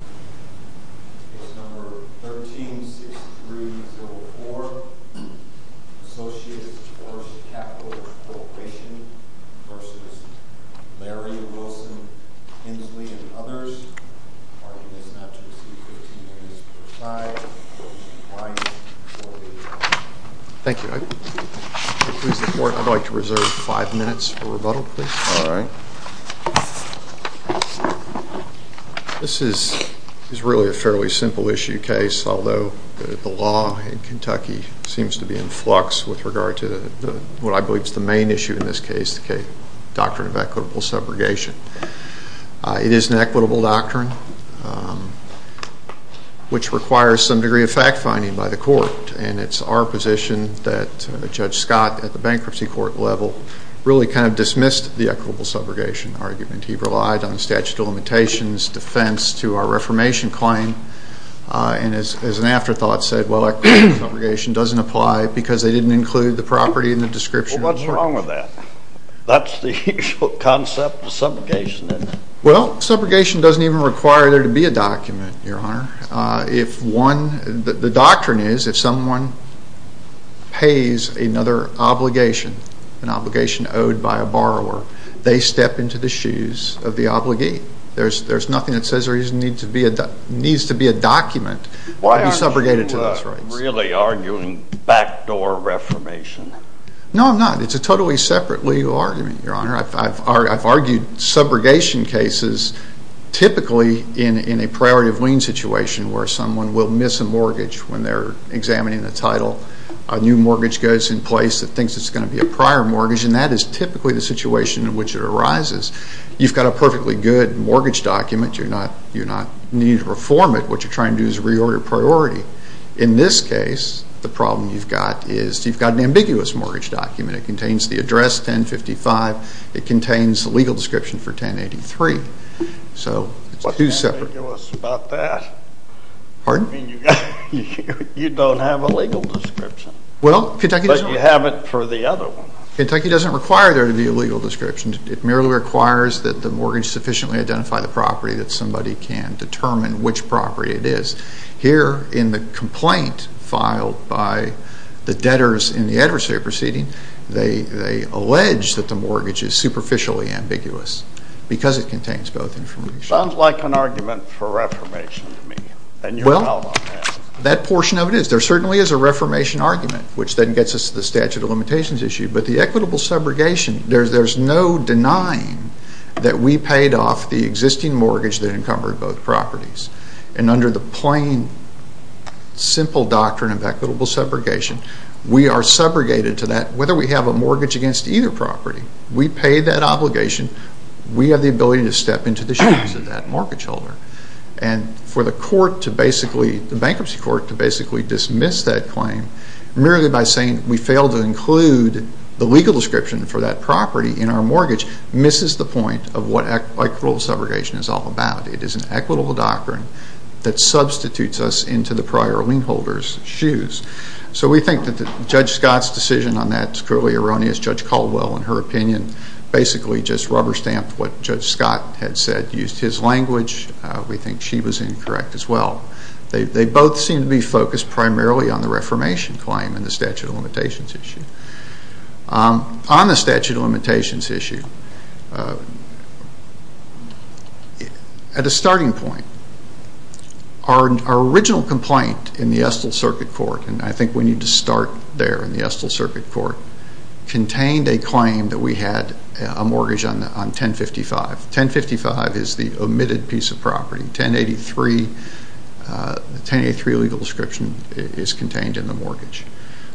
v. Larry, Wilson, Hensley, and others. The party is not to receive 15 minutes per side. Thank you. I'd like to reserve five minutes for rebuttal, please. All right. This is really a fairly simple issue case, although the law in Kentucky seems to be in flux with regard to what I believe is the main issue in this case, the doctrine of equitable subrogation. It is an equitable doctrine, which requires some degree of fact-finding by the court, and it's our position that Judge Scott, at the bankruptcy court level, really kind of dismissed the equitable subrogation argument. He relied on the statute of limitations, defense to our reformation claim, and as an afterthought said, well, equitable subrogation doesn't apply because they didn't include the property in the description. Well, what's wrong with that? That's the usual concept of subrogation, isn't it? Well, subrogation doesn't even require there to be a document, Your Honor. The doctrine is if someone pays another obligation, an obligation owed by a borrower, they step into the shoes of the obligee. There's nothing that says there needs to be a document to be subrogated to those rights. Why aren't you really arguing backdoor reformation? No, I'm not. It's a totally separate legal argument, Your Honor. I've argued subrogation cases typically in a priority of lien situation where someone will miss a mortgage when they're examining the title. A new mortgage goes in place that thinks it's going to be a prior mortgage, and that is typically the situation in which it arises. You've got a perfectly good mortgage document. You're not needing to reform it. What you're trying to do is reorder priority. In this case, the problem you've got is you've got an ambiguous mortgage document. It contains the address 1055. It contains the legal description for 1083. What's ambiguous about that? Pardon? You don't have a legal description. Well, Kentucky doesn't. But you have it for the other one. Kentucky doesn't require there to be a legal description. It merely requires that the mortgage sufficiently identify the property that somebody can determine which property it is. Here, in the complaint filed by the debtors in the adversary proceeding, they allege that the mortgage is superficially ambiguous because it contains both information. Sounds like an argument for reformation to me. Well, that portion of it is. There certainly is a reformation argument, which then gets us to the statute of limitations issue. But the equitable subrogation, there's no denying that we paid off the existing mortgage that encumbered both properties. And under the plain, simple doctrine of equitable subrogation, we are subrogated to that, whether we have a mortgage against either property. We paid that obligation. We have the ability to step into the shoes of that mortgage holder. And for the court to basically, the bankruptcy court to basically dismiss that claim, merely by saying we failed to include the legal description for that property in our mortgage, misses the point of what equitable subrogation is all about. It is an equitable doctrine that substitutes us into the prior lien holder's shoes. So we think that Judge Scott's decision on that is clearly erroneous. Judge Caldwell, in her opinion, basically just rubber-stamped what Judge Scott had said, used his language. We think she was incorrect as well. They both seem to be focused primarily on the reformation claim and the statute of limitations issue. On the statute of limitations issue, at a starting point, our original complaint in the Estill Circuit Court, and I think we need to start there in the Estill Circuit Court, contained a claim that we had a mortgage on 1055. 1055 is the omitted piece of property. The 1083 legal description is contained in the mortgage.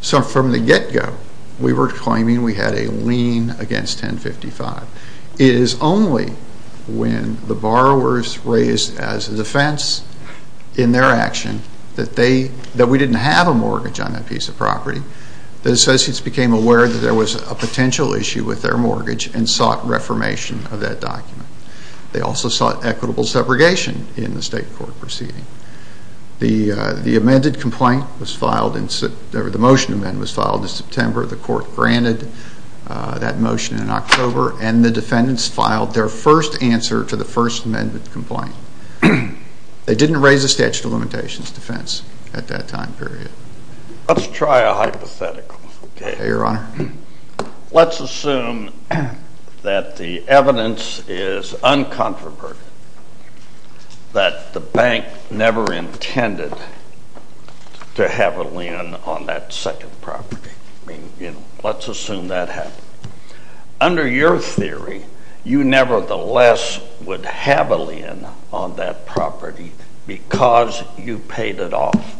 So from the get-go, we were claiming we had a lien against 1055. It is only when the borrowers raised as a defense in their action that we didn't have a mortgage on that piece of property, that associates became aware that there was a potential issue with their mortgage and sought reformation of that document. They also sought equitable subrogation in the state court proceeding. The motion to amend was filed in September. The court granted that motion in October, and the defendants filed their first answer to the First Amendment complaint. They didn't raise a statute of limitations defense at that time period. Let's try a hypothetical. Okay, Your Honor. Let's assume that the evidence is uncontroverted, that the bank never intended to have a lien on that second property. Let's assume that happened. Under your theory, you nevertheless would have a lien on that property because you paid it off.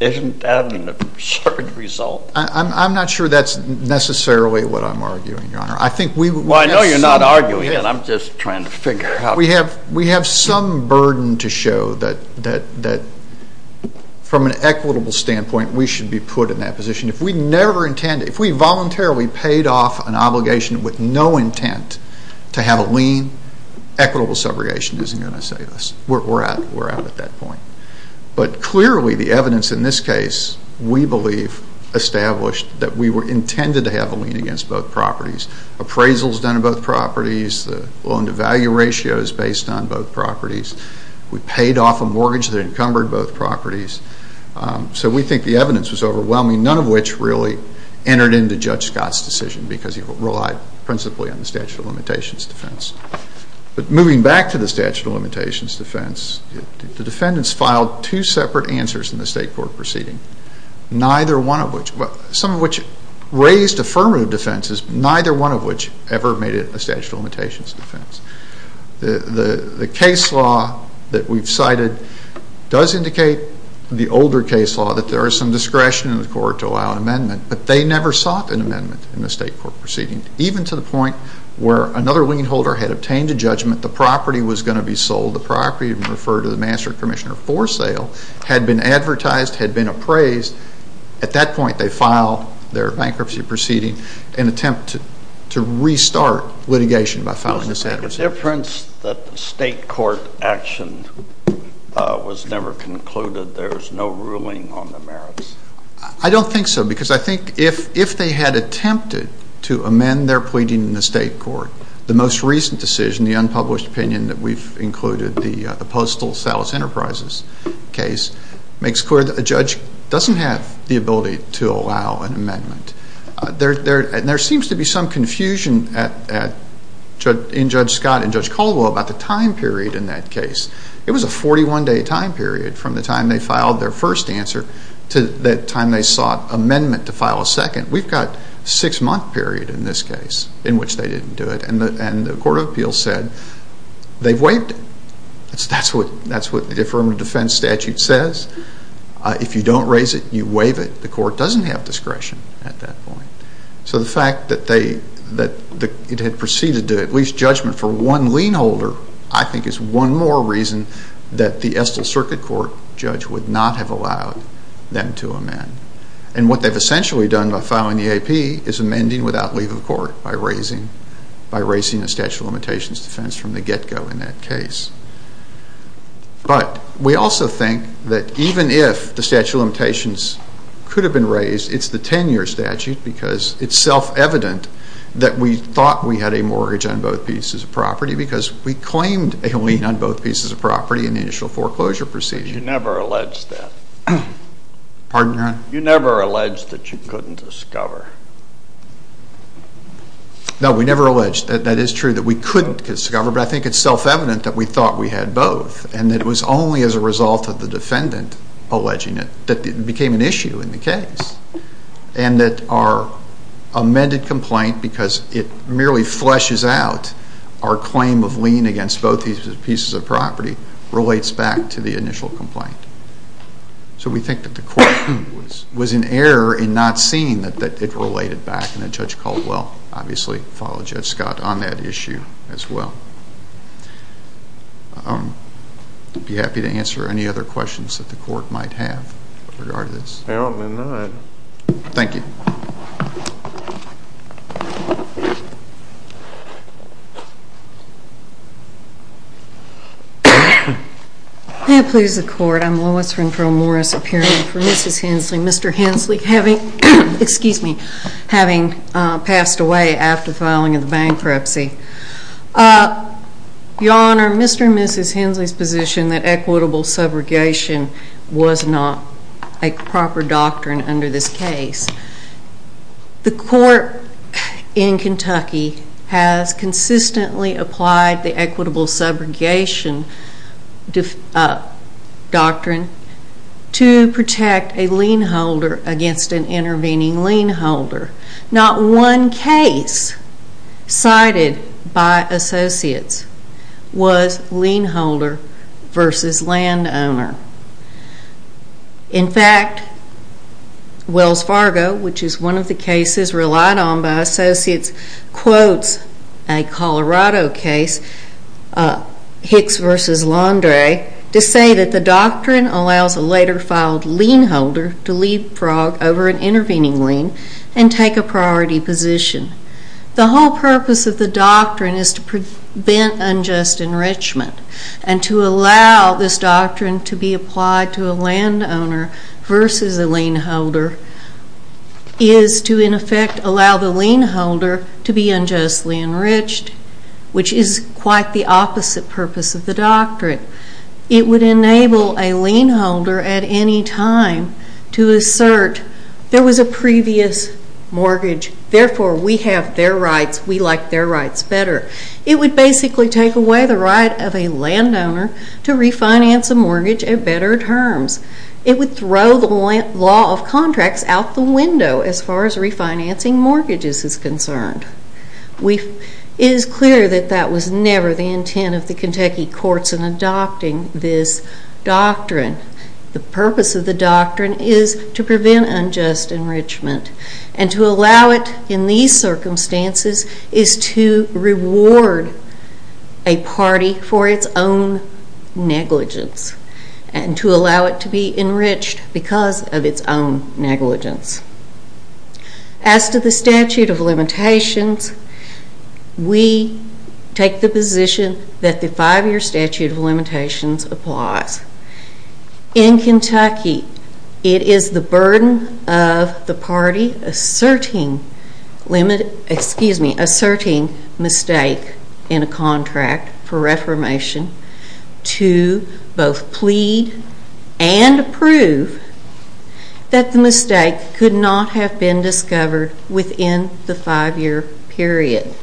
Isn't that an absurd result? I'm not sure that's necessarily what I'm arguing, Your Honor. Well, I know you're not arguing it. I'm just trying to figure out. We have some burden to show that from an equitable standpoint, we should be put in that position. If we voluntarily paid off an obligation with no intent to have a lien, equitable subrogation isn't going to save us. We're out at that point. But clearly, the evidence in this case, we believe, established that we were intended to have a lien against both properties. Appraisals done on both properties, the loan-to-value ratio is based on both properties. We paid off a mortgage that encumbered both properties. So we think the evidence was overwhelming, none of which really entered into Judge Scott's decision because he relied principally on the statute of limitations defense. But moving back to the statute of limitations defense, the defendants filed two separate answers in the state court proceeding, neither one of which, some of which raised affirmative defenses, neither one of which ever made it in the statute of limitations defense. The case law that we've cited does indicate, the older case law, that there is some discretion in the court to allow an amendment, but they never sought an amendment in the state court proceeding, even to the point where another lien holder had obtained a judgment, the property was going to be sold, the property referred to the master commissioner for sale, had been advertised, had been appraised. At that point, they filed their bankruptcy proceeding in an attempt to restart litigation by filing this advertisement. Is there a difference that the state court action was never concluded? There's no ruling on the merits? I don't think so, because I think if they had attempted to amend their pleading in the state court, the most recent decision, the unpublished opinion that we've included, the postal sales enterprises case, makes clear that a judge doesn't have the ability to allow an amendment. There seems to be some confusion in Judge Scott and Judge Caldwell about the time period in that case. It was a 41-day time period from the time they filed their first answer to the time they sought amendment to file a second. We've got a six-month period in this case in which they didn't do it, and the Court of Appeals said they've waived it. That's what the affirmative defense statute says. If you don't raise it, you waive it. The court doesn't have discretion at that point. So the fact that it had proceeded to at least judgment for one lien holder I think is one more reason that the Estill Circuit Court judge would not have allowed them to amend. And what they've essentially done by filing the AP is amending without leave of court by raising a statute of limitations defense from the get-go in that case. But we also think that even if the statute of limitations could have been raised, it's the 10-year statute because it's self-evident that we thought we had a mortgage on both pieces of property because we claimed a lien on both pieces of property in the initial foreclosure proceeding. But you never alleged that. Pardon, Your Honor? You never alleged that you couldn't discover. No, we never alleged. That is true that we couldn't discover, but I think it's self-evident that we thought we had both and that it was only as a result of the defendant alleging it that it became an issue in the case and that our amended complaint because it merely fleshes out our claim of lien against both pieces of property relates back to the initial complaint. So we think that the court was in error in not seeing that it related back and that Judge Caldwell obviously followed Judge Scott on that issue as well. I'd be happy to answer any other questions that the court might have in regard to this. Apparently not. Thank you. May it please the court, I'm Lois Renfrow Morris appearing for Mrs. Hensley. Mr. Hensley having passed away after filing the bankruptcy. Your Honor, Mr. and Mrs. Hensley's position that equitable subrogation was not a proper doctrine under this case. The court in Kentucky has consistently applied the equitable subrogation doctrine to protect a lien holder against an intervening lien holder. Not one case cited by associates was lien holder versus land owner. In fact, Wells Fargo, which is one of the cases relied on by associates, quotes a Colorado case, Hicks versus Landry, to say that the doctrine allows a later filed lien holder to leave Prague over an intervening lien and take a priority position. The whole purpose of the doctrine is to prevent unjust enrichment and to allow this doctrine to be applied to a land owner versus a lien holder is to in effect allow the lien holder to be unjustly enriched, which is quite the opposite purpose of the doctrine. It would enable a lien holder at any time to assert there was a previous mortgage, therefore we have their rights, we like their rights better. It would basically take away the right of a land owner to refinance a mortgage at better terms. It would throw the law of contracts out the window as far as refinancing mortgages is concerned. It is clear that that was never the intent of the Kentucky courts in adopting this doctrine. The purpose of the doctrine is to prevent unjust enrichment and to allow it in these circumstances is to reward a party for its own negligence and to allow it to be enriched because of its own negligence. As to the statute of limitations, we take the position that the five-year statute of limitations applies. In Kentucky, it is the burden of the party asserting mistake in a contract for reformation to both plead and approve that the mistake could not have been discovered within the five-year period.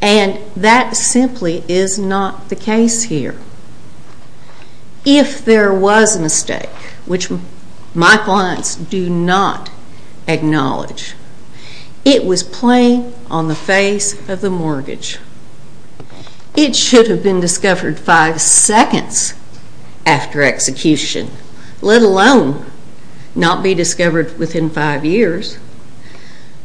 And that simply is not the case here. If there was a mistake, which my clients do not acknowledge, it was plain on the face of the mortgage. It should have been discovered five seconds after execution, let alone not be discovered within five years.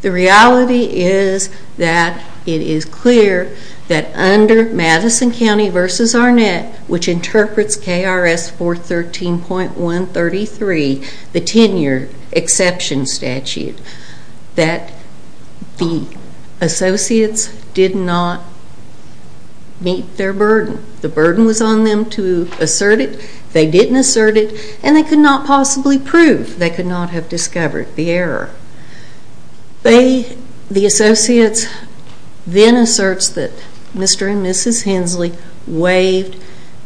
The reality is that it is clear that under Madison County v. Arnett, which interprets KRS 413.133, the 10-year exception statute, that the associates did not meet their burden. The burden was on them to assert it. They didn't assert it and they could not possibly prove they could not have discovered the error. The associates then asserts that Mr. and Mrs. Hensley waived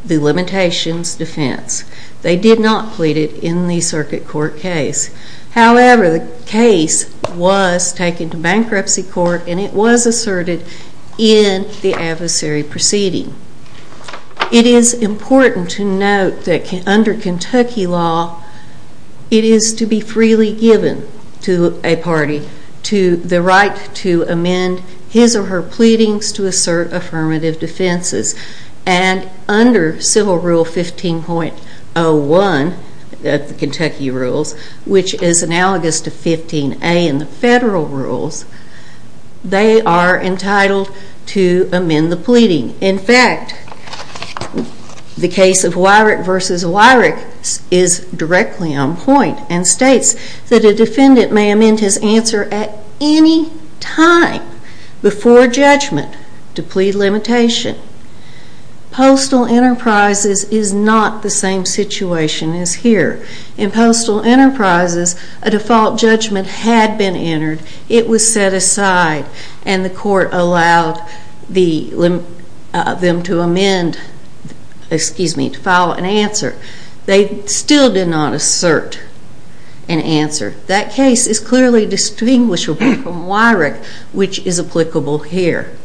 the limitations defense. They did not plead it in the circuit court case. However, the case was taken to bankruptcy court and it was asserted in the adversary proceeding. It is important to note that under Kentucky law, it is to be freely given to a party the right to amend his or her pleadings to assert affirmative defenses. And under Civil Rule 15.01 of the Kentucky rules, which is analogous to 15A in the federal rules, they are entitled to amend the pleading. In fact, the case of Wyrick v. Wyrick is directly on point and states that a defendant may amend his answer at any time before judgment to plead limitation. Postal Enterprises is not the same situation as here. In Postal Enterprises, a default judgment had been entered. It was set aside and the court allowed them to amend, excuse me, to file an answer. They still did not assert an answer. That case is clearly distinguishable from Wyrick, which is applicable here.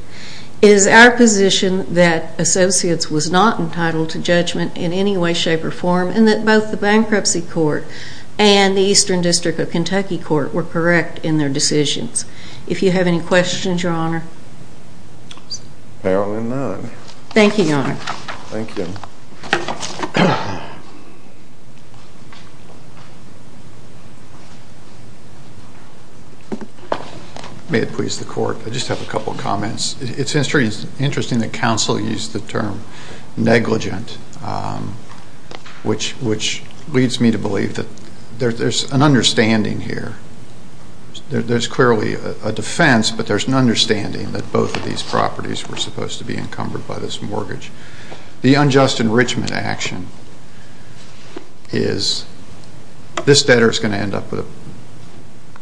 It is our position that associates was not entitled to judgment in any way, shape, or form and that both the Bankruptcy Court and the Eastern District of Kentucky Court were correct in their decisions. If you have any questions, Your Honor? Apparently none. Thank you, Your Honor. Thank you. May it please the Court, I just have a couple of comments. It is interesting that counsel used the term negligent, which leads me to believe that there is an understanding here. There is clearly a defense, but there is an understanding that both of these properties were supposed to be encumbered by this mortgage. The unjust enrichment action is this debtor is going to end up with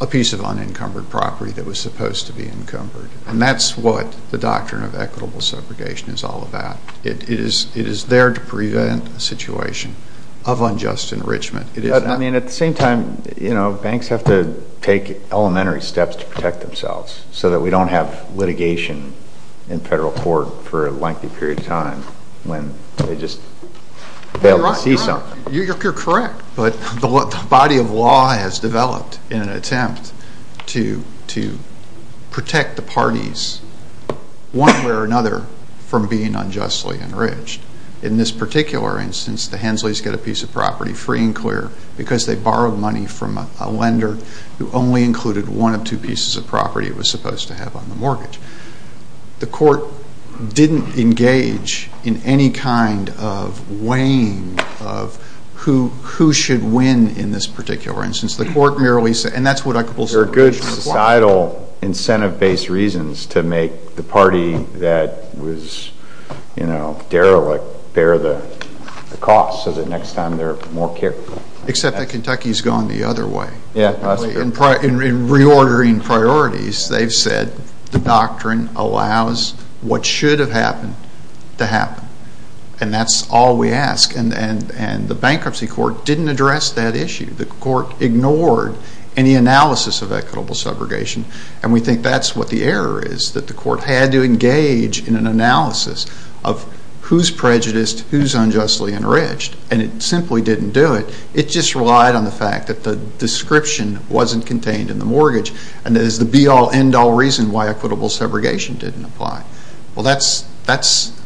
a piece of unencumbered property that was supposed to be encumbered, and that is what the doctrine of equitable subrogation is all about. It is there to prevent a situation of unjust enrichment. I mean, at the same time, you know, banks have to take elementary steps to protect themselves so that we do not have litigation in federal court for a lengthy period of time when they just fail to see something. You are correct, but the body of law has developed in an attempt to protect the parties one way or another from being unjustly enriched. In this particular instance, the Hensleys get a piece of property free and clear because they borrowed money from a lender who only included one of two pieces of property it was supposed to have on the mortgage. The court did not engage in any kind of weighing of who should win in this particular instance. The court merely said, and that is what equitable subrogation is about. There are good societal incentive-based reasons to make the party that was, you know, derelict bear the cost so that next time they are more careful. Except that Kentucky has gone the other way. Yeah, that is a good point. In reordering priorities, they have said the doctrine allows what should have happened to happen, and that is all we ask, and the bankruptcy court did not address that issue. The court ignored any analysis of equitable subrogation, and we think that is what the error is, that the court had to engage in an analysis of who is prejudiced, who is unjustly enriched, and it simply did not do it. It just relied on the fact that the description was not contained in the mortgage, and that is the be-all, end-all reason why equitable subrogation did not apply. Well, that is,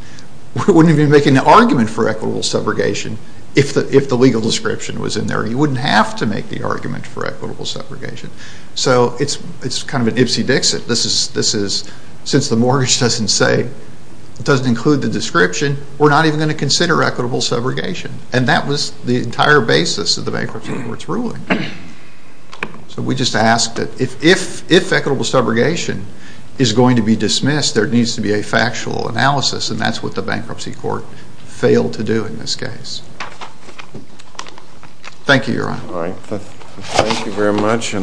we would not even be making an argument for equitable subrogation if the legal description was in there. You would not have to make the argument for equitable subrogation. So it is kind of an Ipsy Dixit. This is, since the mortgage does not include the description, we are not even going to consider equitable subrogation. And that was the entire basis of the bankruptcy court's ruling. So we just ask that if equitable subrogation is going to be dismissed, there needs to be a factual analysis, and that is what the bankruptcy court failed to do in this case. Thank you, Your Honor. Thank you very much.